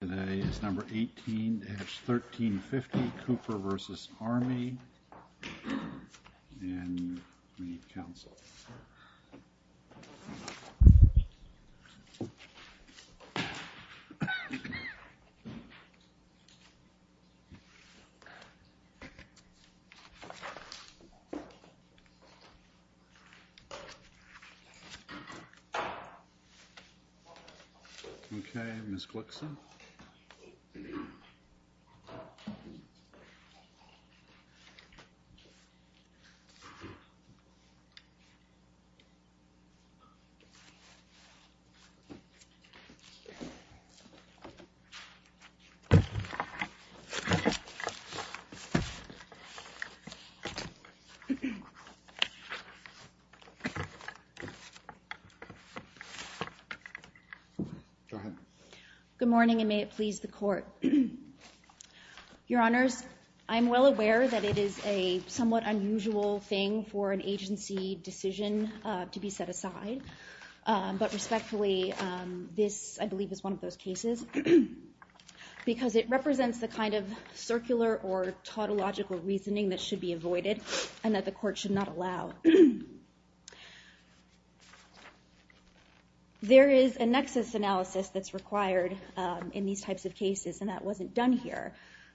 Today is number 18-1350, Cooper v. Army, and we need counsel. Okay, Ms. Glickson. Good morning, everyone. Good morning, and may it please the Court. Your Honors, I'm well aware that it is a somewhat unusual thing for an agency decision to be set aside, but respectfully, this, I believe, is one of those cases, because it represents the kind of circular or tautological reasoning that should be avoided and that the Court should not allow. So, there is a nexus analysis that's required in these types of cases, and that wasn't done here.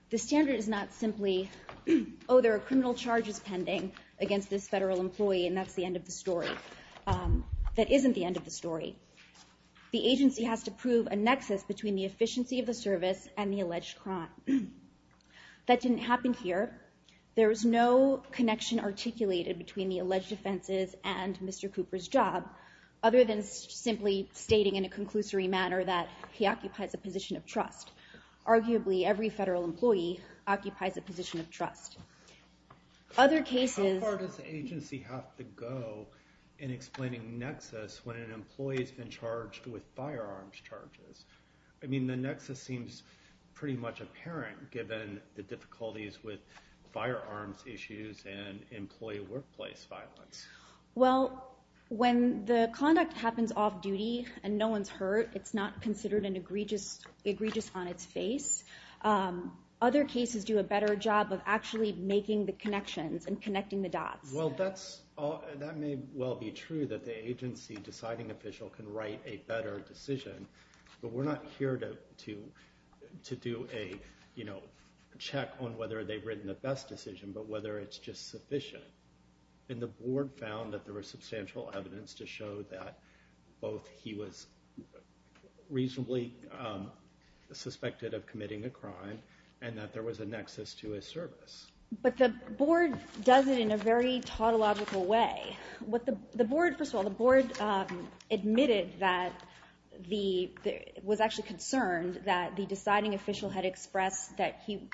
The standard is not simply, oh, there are criminal charges pending against this federal employee, and that's the end of the story. That isn't the end of the story. The agency has to prove a nexus between the efficiency of the service and the alleged crime. That didn't happen here. There is no connection articulated between the alleged offenses and Mr. Cooper's job, other than simply stating in a conclusory manner that he occupies a position of trust. Arguably, every federal employee occupies a position of trust. Other cases- How far does the agency have to go in explaining nexus when an employee's been charged with firearms charges? I mean, the nexus seems pretty much apparent, given the difficulties with firearms issues and employee workplace violence. Well, when the conduct happens off-duty and no one's hurt, it's not considered an egregious on its face. Other cases do a better job of actually making the connections and connecting the dots. Well, that may well be true, that the agency deciding official can write a better decision, but we're not here to do a check on whether they've written the best decision, but whether it's just sufficient. And the board found that there was substantial evidence to show that both he was reasonably suspected of committing a crime and that there was a nexus to his service. But the board does it in a very tautological way. First of all, the board admitted that it was actually concerned that the deciding official had expressed that he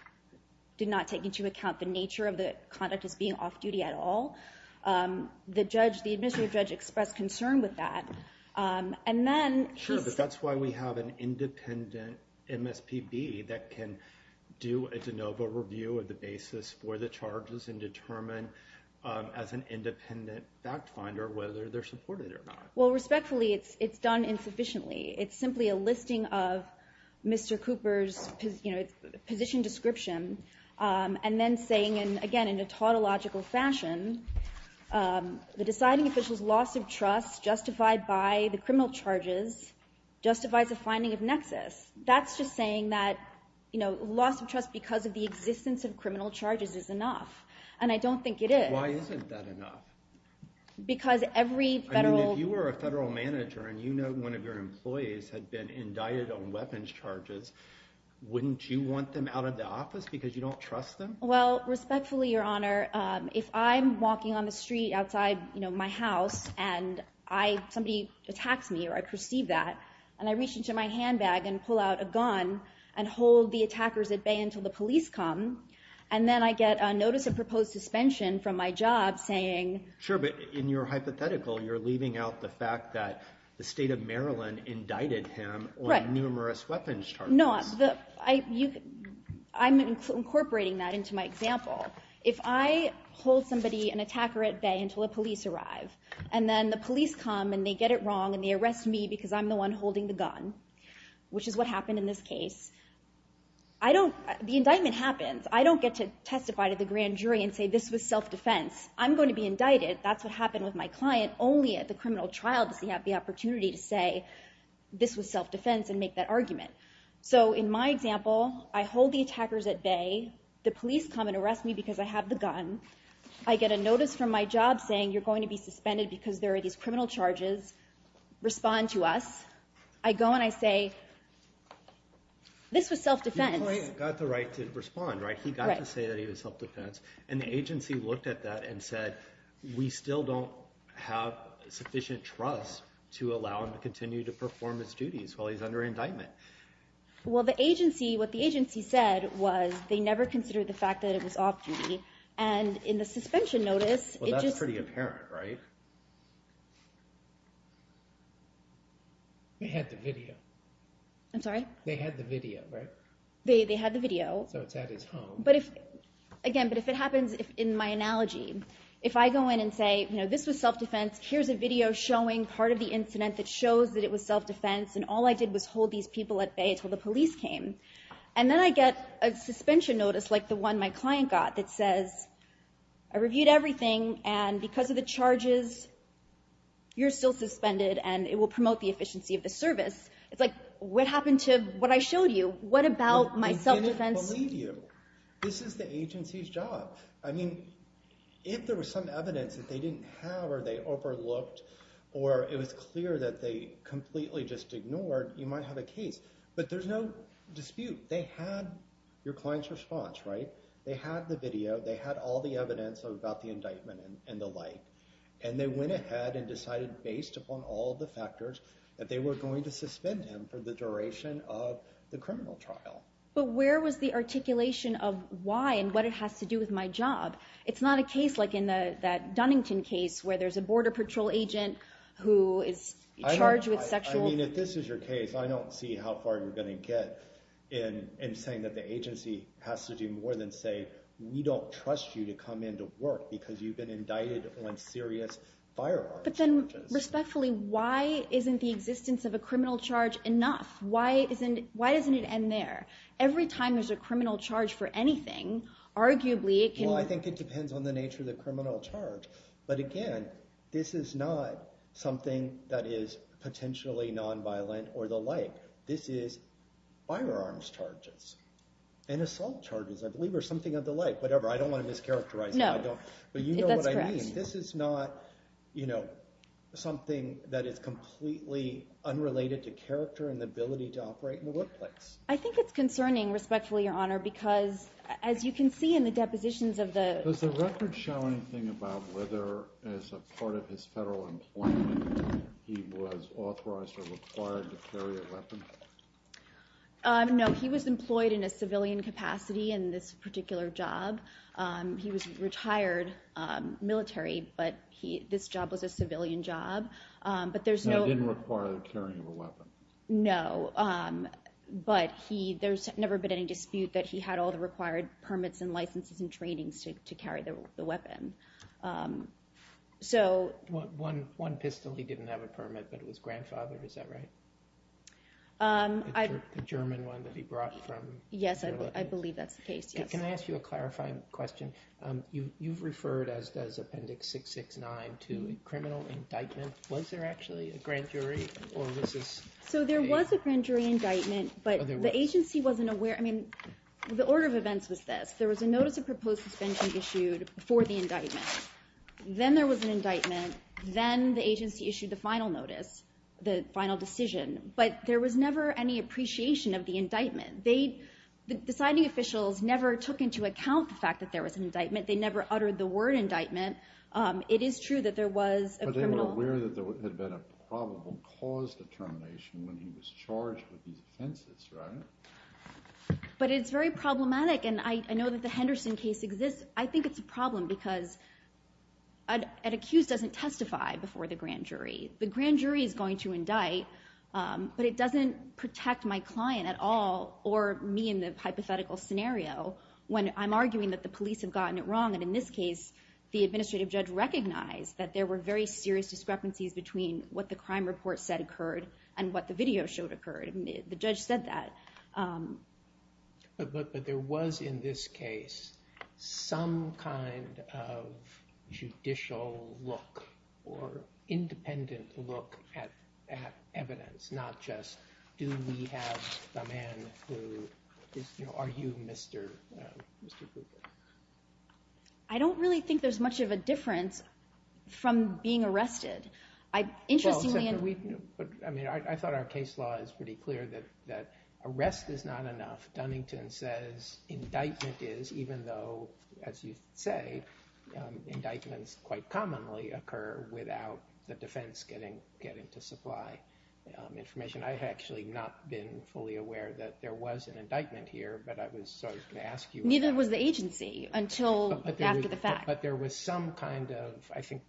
did not take into account the nature of the conduct as being off-duty at all. The administrative judge expressed concern with that. And then- Sure, but that's why we have an independent MSPB that can do a de novo review of the basis for the charges and determine as an independent fact finder whether they're supported or not. Well, respectfully, it's done insufficiently. It's simply a listing of Mr. Cooper's position description and then saying, again, in a tautological fashion, the deciding official's loss of trust justified by the criminal charges justifies a finding of nexus. That's just saying that loss of trust because of the existence of criminal charges is enough. And I don't think it is. Why isn't that enough? Because every federal- I mean, if you were a federal manager and you know one of your employees had been indicted on weapons charges, wouldn't you want them out of the office because you don't trust them? Well, respectfully, Your Honor, if I'm walking on the street outside my house and somebody attacks me or I perceive that, and I reach into my handbag and pull out a gun and hold the attackers at bay until the police come, and then I get a notice of proposed suspension from my job saying- Sure, but in your hypothetical, you're leaving out the fact that the state of Maryland indicted him on numerous weapons charges. No, I'm incorporating that into my example. If I hold somebody, an attacker, at bay until the police arrive, and then the police come and they get it wrong and they arrest me because I'm the one holding the gun, which is what happened in this case, the indictment happens. I don't get to testify to the grand jury and say, this was self-defense. I'm going to be indicted. That's what happened with my client only at the criminal trial does he have the opportunity to say, this was self-defense and make that argument. So in my example, I hold the attackers at bay. The police come and arrest me because I have the gun. I get a notice from my job saying, you're going to be suspended because there are these charges. Respond to us. I go and I say, this was self-defense. Your client got the right to respond, right? He got to say that he was self-defense. And the agency looked at that and said, we still don't have sufficient trust to allow him to continue to perform his duties while he's under indictment. Well, the agency, what the agency said was they never considered the fact that it was off-duty. And in the suspension notice- Well, that's pretty apparent, right? They had the video. I'm sorry? They had the video, right? They had the video. So it's at his home. Again, but if it happens in my analogy, if I go in and say, this was self-defense. Here's a video showing part of the incident that shows that it was self-defense. And all I did was hold these people at bay until the police came. And then I get a suspension notice like the one my client got that says, I reviewed everything and because of the charges, you're still suspended and it will promote the efficiency of the service. It's like, what happened to what I showed you? What about my self-defense- They didn't believe you. This is the agency's job. I mean, if there was some evidence that they didn't have or they overlooked or it was clear that they completely just ignored, you might have a case. But there's no dispute. They had your client's response, right? They had the video. They had all the evidence about the indictment and the like. And they went ahead and decided based upon all the factors that they were going to suspend him for the duration of the criminal trial. But where was the articulation of why and what it has to do with my job? It's not a case like in that Dunnington case where there's a border patrol agent who is charged with sexual- I mean, if this is your case, I don't see how far you're going to get in saying that the agency has to do more than say, we don't trust you to come into work because you've been indicted on serious firearms charges. But then respectfully, why isn't the existence of a criminal charge enough? Why doesn't it end there? Every time there's a criminal charge for anything, arguably it can- Well, I think it depends on the nature of the criminal charge. But again, this is not something that is potentially nonviolent or the like. This is firearms charges and assault charges, I believe, or something of the like. Whatever. I don't want to mischaracterize it. No. That's correct. But you know what I mean. This is not something that is completely unrelated to character and the ability to operate in the workplace. I think it's concerning, respectfully, Your Honor, because as you can see in the depositions of the- Does the record show anything about whether as a part of his federal employment he was authorized or required to carry a weapon? No. He was employed in a civilian capacity in this particular job. He was retired military, but this job was a civilian job. But there's no- And it didn't require the carrying of a weapon. No. But there's never been any dispute that he had all the required permits and licenses and trainings to carry the weapon. So- One pistol he didn't have a permit, but it was grandfather. Is that right? The German one that he brought from- Yes. I believe that's the case. Yes. Can I ask you a clarifying question? You've referred, as does Appendix 669, to a criminal indictment. Was there actually a grand jury, or was this a- So there was a grand jury indictment, but the agency wasn't aware. I mean, the order of events was this. There was a notice of proposed suspension issued for the indictment. Then there was an indictment. Then the agency issued the final notice, the final decision. But there was never any appreciation of the indictment. The signing officials never took into account the fact that there was an indictment. They never uttered the word indictment. It is true that there was a criminal- But they were aware that there had been a probable cause determination when he was charged with these offenses, right? But it's very problematic, and I know that the Henderson case exists. I think it's a problem because an accused doesn't testify before the grand jury. The grand jury is going to indict, but it doesn't protect my client at all or me in the hypothetical scenario when I'm arguing that the police have gotten it wrong. In this case, the administrative judge recognized that there were very serious discrepancies between what the crime report said occurred and what the video showed occurred. The judge said that. But there was in this case some kind of judicial look or independent look at evidence, not just do we have the man who is- are you Mr. Gruber? I don't really think there's much of a difference from being arrested. I thought our case law is pretty clear that arrest is not enough. Dunnington says indictment is, even though, as you say, indictments quite commonly occur without the defense getting to supply information. I've actually not been fully aware that there was an indictment here, but I was going to ask you- Neither was the agency until after the fact. But there was some kind of, I think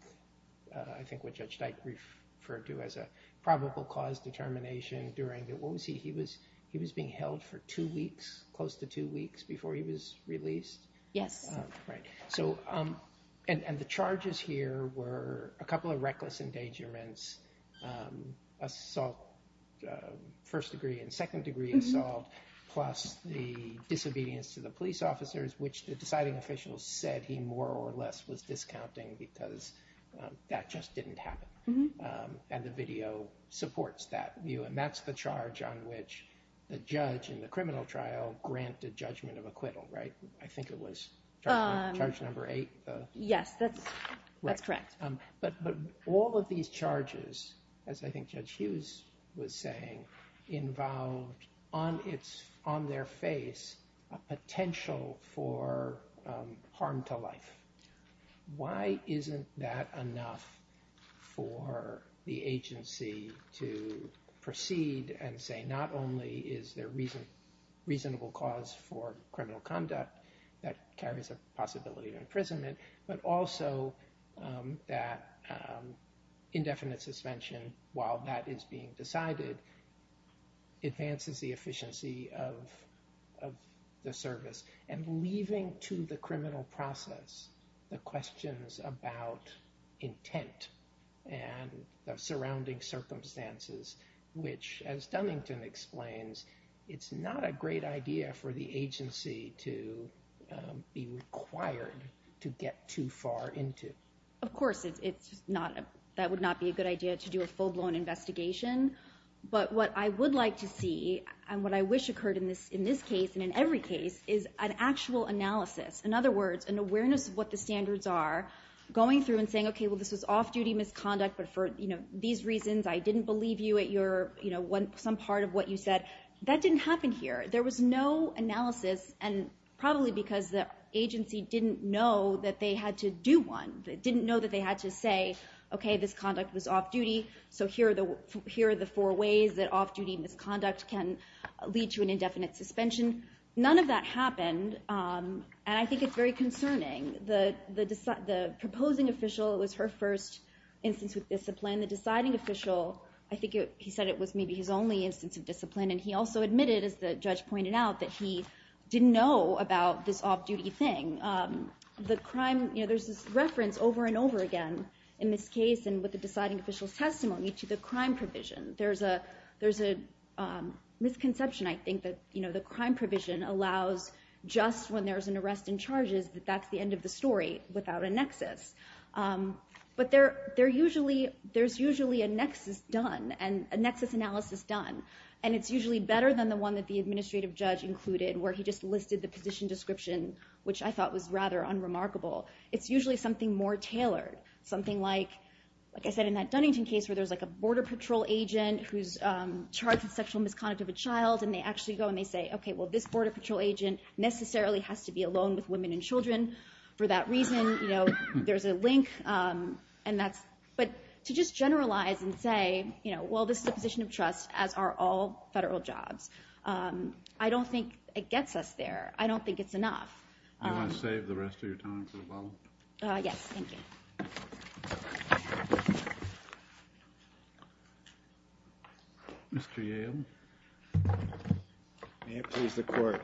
what Judge Dyke referred to as a probable cause determination during the- what was he- he was being held for two weeks, close to two weeks, before he was released? Yes. Right. And the charges here were a couple of reckless endangerments, assault, first degree and second degree assault, plus the disobedience to the police officers, which the deciding official said he more or less was discounting because that just didn't happen. And the video supports that view, and that's the charge on which the judge in the criminal trial granted judgment of acquittal, right? I think it was charge number eight? Yes, that's correct. But all of these charges, as I think Judge Hughes was saying, involved on their face a potential for harm to life. Why isn't that enough for the agency to proceed and say not only is there reasonable cause for criminal conduct that carries a possibility of imprisonment, but also that indefinite suspension, while that is being decided, advances the efficiency of the service. And leaving to the criminal process the questions about intent and the surrounding circumstances, which, as Dunnington explains, it's not a great idea for the agency to be required to get too far into. Of course, that would not be a good idea to do a full-blown investigation. But what I would like to see, and what I wish occurred in this case and in every case, is an actual analysis. In other words, an awareness of what the standards are, going through and saying, okay, well, this was off-duty misconduct, but for these reasons I didn't believe you at some part of what you said. That didn't happen here. There was no analysis, and probably because the agency didn't know that they had to do one. They didn't know that they had to say, okay, this conduct was off-duty, so here are the four ways that off-duty misconduct can lead to an indefinite suspension. None of that happened, and I think it's very concerning. The proposing official, it was her first instance with discipline. The deciding official, I think he said it was maybe his only instance of discipline, and he also admitted, as the judge pointed out, that he didn't know about this off-duty thing. There's this reference over and over again in this case and with the deciding official's testimony to the crime provision. There's a misconception, I think, that the crime provision allows just when there's an arrest and charges that that's the end of the story without a nexus. But there's usually a nexus done and a nexus analysis done, and it's usually better than the one that the administrative judge included where he just listed the position description, which I thought was rather unremarkable. It's usually something more tailored, something like, like I said in that Dunnington case where there's like a border patrol agent who's charged with sexual misconduct of a child, and they actually go and they say, okay, well, this border patrol agent necessarily has to be alone with women and children for that reason. There's a link, but to just generalize and say, well, this is a position of trust, as are all federal jobs. I don't think it gets us there. I don't think it's enough. Do you want to save the rest of your time for the follow-up? Yes, thank you. Mr. Yale. May it please the Court.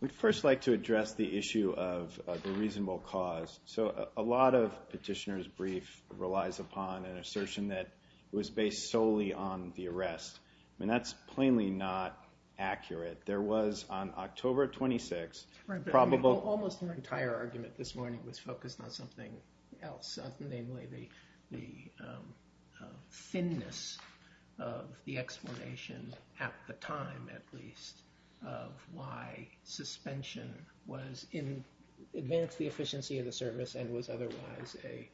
We'd first like to address the issue of the reasonable cause. So a lot of petitioners' brief relies upon an assertion that it was based solely on the arrest. I mean, that's plainly not accurate. There was, on October 26th, probable- Right, but almost the entire argument this morning was focused on something else, namely the thinness of the explanation at the time, at least, of why suspension advanced the efficiency of the service and was otherwise a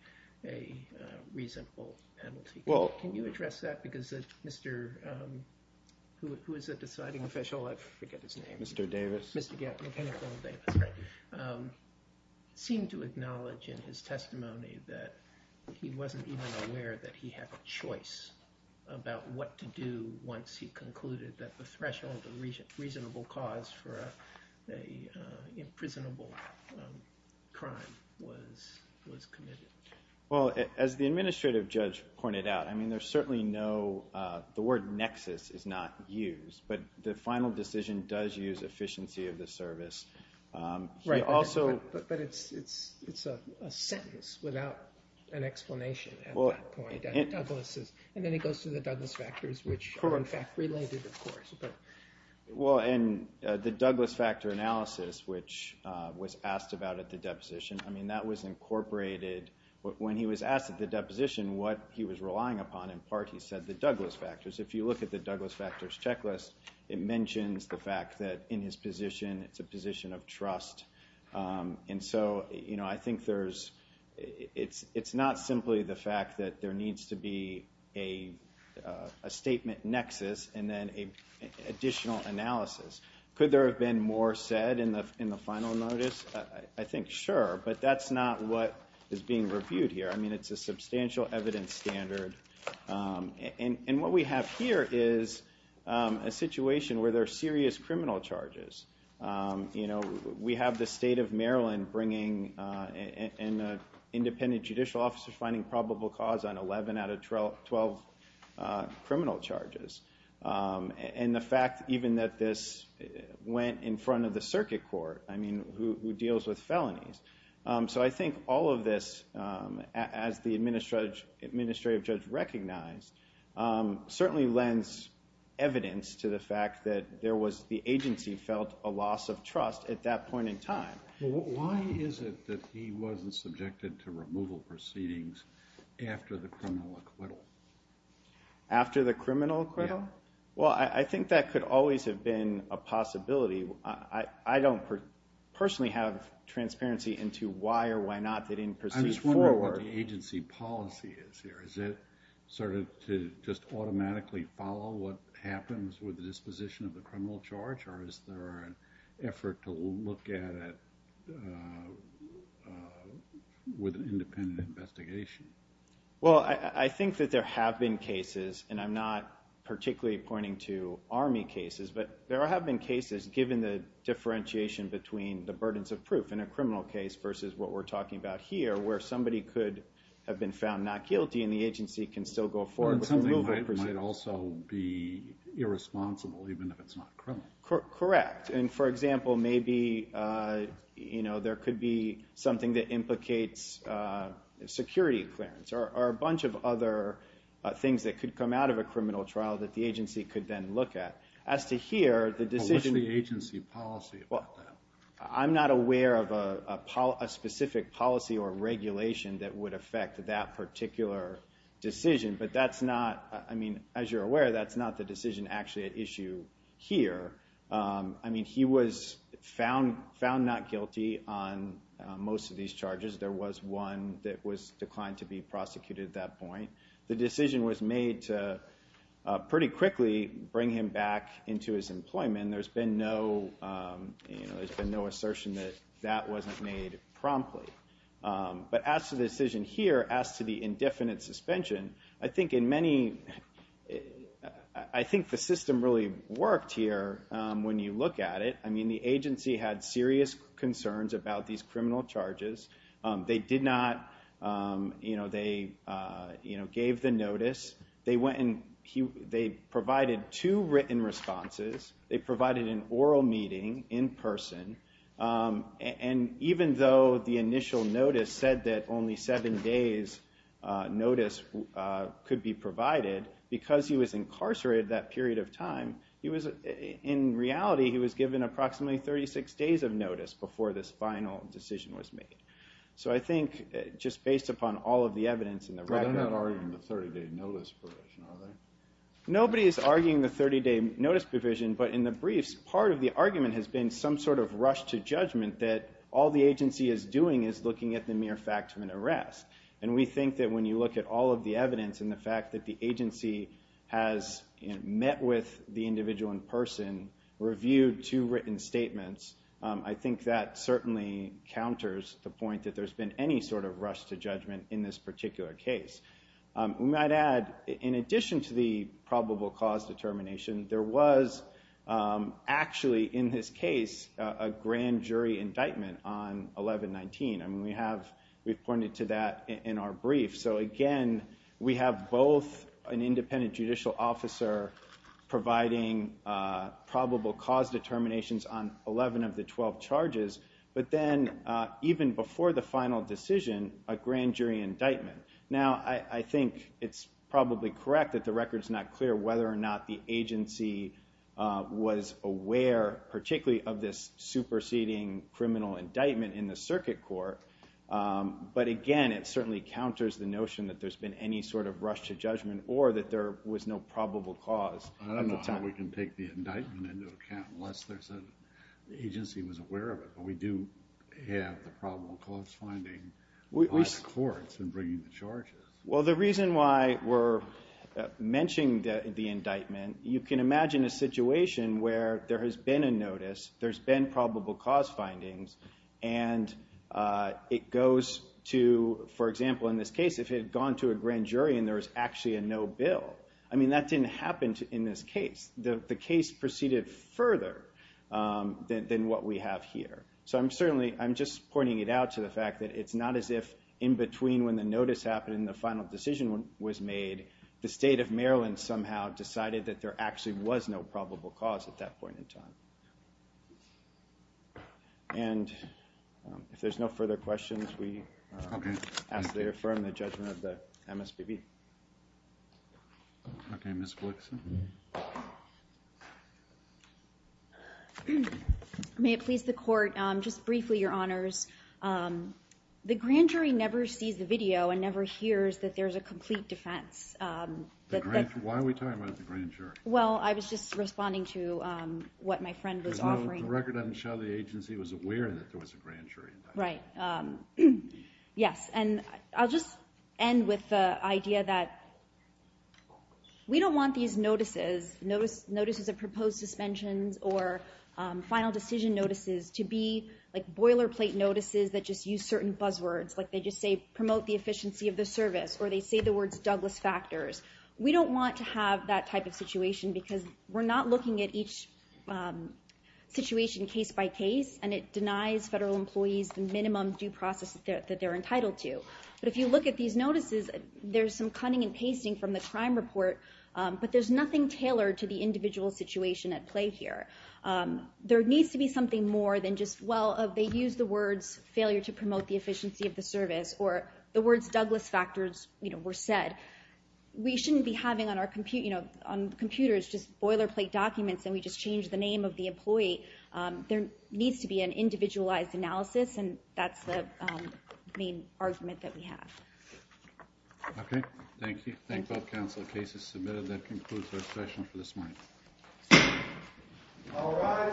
reasonable penalty. Can you address that? Because Mr. – who is the deciding official? I forget his name. Mr. Davis. Mr. Davis, right. Seemed to acknowledge in his testimony that he wasn't even aware that he had a choice about what to do once he concluded that the threshold of reasonable cause for an imprisonable crime was committed. Well, as the administrative judge pointed out, I mean, there's certainly no – the word nexus is not used, but the final decision does use efficiency of the service. Right, but it's a sentence without an explanation at that point. And then it goes to the Douglas factors, which are, in fact, related, of course. Well, and the Douglas factor analysis, which was asked about at the deposition, I mean, that was incorporated – when he was asked at the deposition what he was relying upon, in part he said the Douglas factors. If you look at the Douglas factors checklist, it mentions the fact that in his position, it's a position of trust. And so, you know, I think there's – it's not simply the fact that there needs to be a statement nexus and then an additional analysis. Could there have been more said in the final notice? I think sure, but that's not what is being reviewed here. I mean, it's a substantial evidence standard. And what we have here is a situation where there are serious criminal charges. You know, we have the state of Maryland bringing an independent judicial officer finding probable cause on 11 out of 12 criminal charges. And the fact even that this went in front of the circuit court, I mean, who deals with felonies. So I think all of this, as the administrative judge recognized, certainly lends evidence to the fact that there was – the agency felt a loss of trust at that point in time. Why is it that he wasn't subjected to removal proceedings after the criminal acquittal? After the criminal acquittal? Well, I think that could always have been a possibility. I don't personally have transparency into why or why not they didn't proceed forward. I'm just wondering what the agency policy is here. Is it sort of to just automatically follow what happens with the disposition of the criminal charge? Or is there an effort to look at it with an independent investigation? Well, I think that there have been cases, and I'm not particularly pointing to Army cases, but there have been cases, given the differentiation between the burdens of proof in a criminal case versus what we're talking about here, where somebody could have been found not guilty and the agency can still go forward with the removal proceedings. But something might also be irresponsible, even if it's not criminal. Correct. And, for example, maybe there could be something that implicates security clearance or a bunch of other things that could come out of a criminal trial that the agency could then look at. As to here, the decision— What's the agency policy about that? I'm not aware of a specific policy or regulation that would affect that particular decision, but that's not—I mean, as you're aware, that's not the decision actually at issue here. I mean, he was found not guilty on most of these charges. There was one that was declined to be prosecuted at that point. The decision was made to pretty quickly bring him back into his employment. There's been no assertion that that wasn't made promptly. But as to the decision here, as to the indefinite suspension, I think in many— I think the system really worked here when you look at it. I mean, the agency had serious concerns about these criminal charges. They did not—they gave the notice. They provided two written responses. They provided an oral meeting in person. And even though the initial notice said that only seven days' notice could be provided, because he was incarcerated that period of time, he was—in reality, he was given approximately 36 days of notice before this final decision was made. So I think just based upon all of the evidence and the record— But they're not arguing the 30-day notice provision, are they? Nobody is arguing the 30-day notice provision, but in the briefs, part of the argument has been some sort of rush to judgment that all the agency is doing is looking at the mere fact of an arrest. And we think that when you look at all of the evidence and the fact that the agency has met with the individual in person, reviewed two written statements, I think that certainly counters the point that there's been any sort of rush to judgment in this particular case. We might add, in addition to the probable cause determination, there was actually, in this case, a grand jury indictment on 11-19. I mean, we have—we've pointed to that in our brief. So again, we have both an independent judicial officer providing probable cause determinations on 11 of the 12 charges, but then even before the final decision, a grand jury indictment. Now, I think it's probably correct that the record's not clear whether or not the agency was aware, particularly of this superseding criminal indictment in the circuit court. But again, it certainly counters the notion that there's been any sort of rush to judgment or that there was no probable cause at the time. I don't know how we can take the indictment into account unless the agency was aware of it. But we do have the probable cause finding by the courts in bringing the charges. Well, the reason why we're mentioning the indictment, you can imagine a situation where there has been a notice, there's been probable cause findings, and it goes to, for example, in this case, if it had gone to a grand jury and there was actually a no bill. I mean, that didn't happen in this case. The case proceeded further than what we have here. So I'm just pointing it out to the fact that it's not as if in between when the notice happened and the final decision was made, the state of Maryland somehow decided that there actually was no probable cause at that point in time. And if there's no further questions, we ask that you affirm the judgment of the MSPB. Okay, Ms. Glickson. May it please the Court, just briefly, Your Honors. The grand jury never sees the video and never hears that there's a complete defense. Why are we talking about the grand jury? Well, I was just responding to what my friend was offering. The record doesn't show the agency was aware that there was a grand jury indictment. Right. Yes. And I'll just end with the idea that we don't want these notices, notices of proposed suspensions or final decision notices, to be like boilerplate notices that just use certain buzzwords. Like they just say, promote the efficiency of the service, or they say the words Douglas factors. We don't want to have that type of situation because we're not looking at each situation case by case, and it denies federal employees the minimum due process that they're entitled to. But if you look at these notices, there's some cutting and pasting from the crime report, but there's nothing tailored to the individual situation at play here. There needs to be something more than just, well, they use the words failure to promote the efficiency of the service, or the words Douglas factors were said. We shouldn't be having on computers just boilerplate documents and we just change the name of the employee. There needs to be an individualized analysis, and that's the main argument that we have. Okay. Thank you. Thank both counsel. The case is submitted. That concludes our session for this morning. All rise.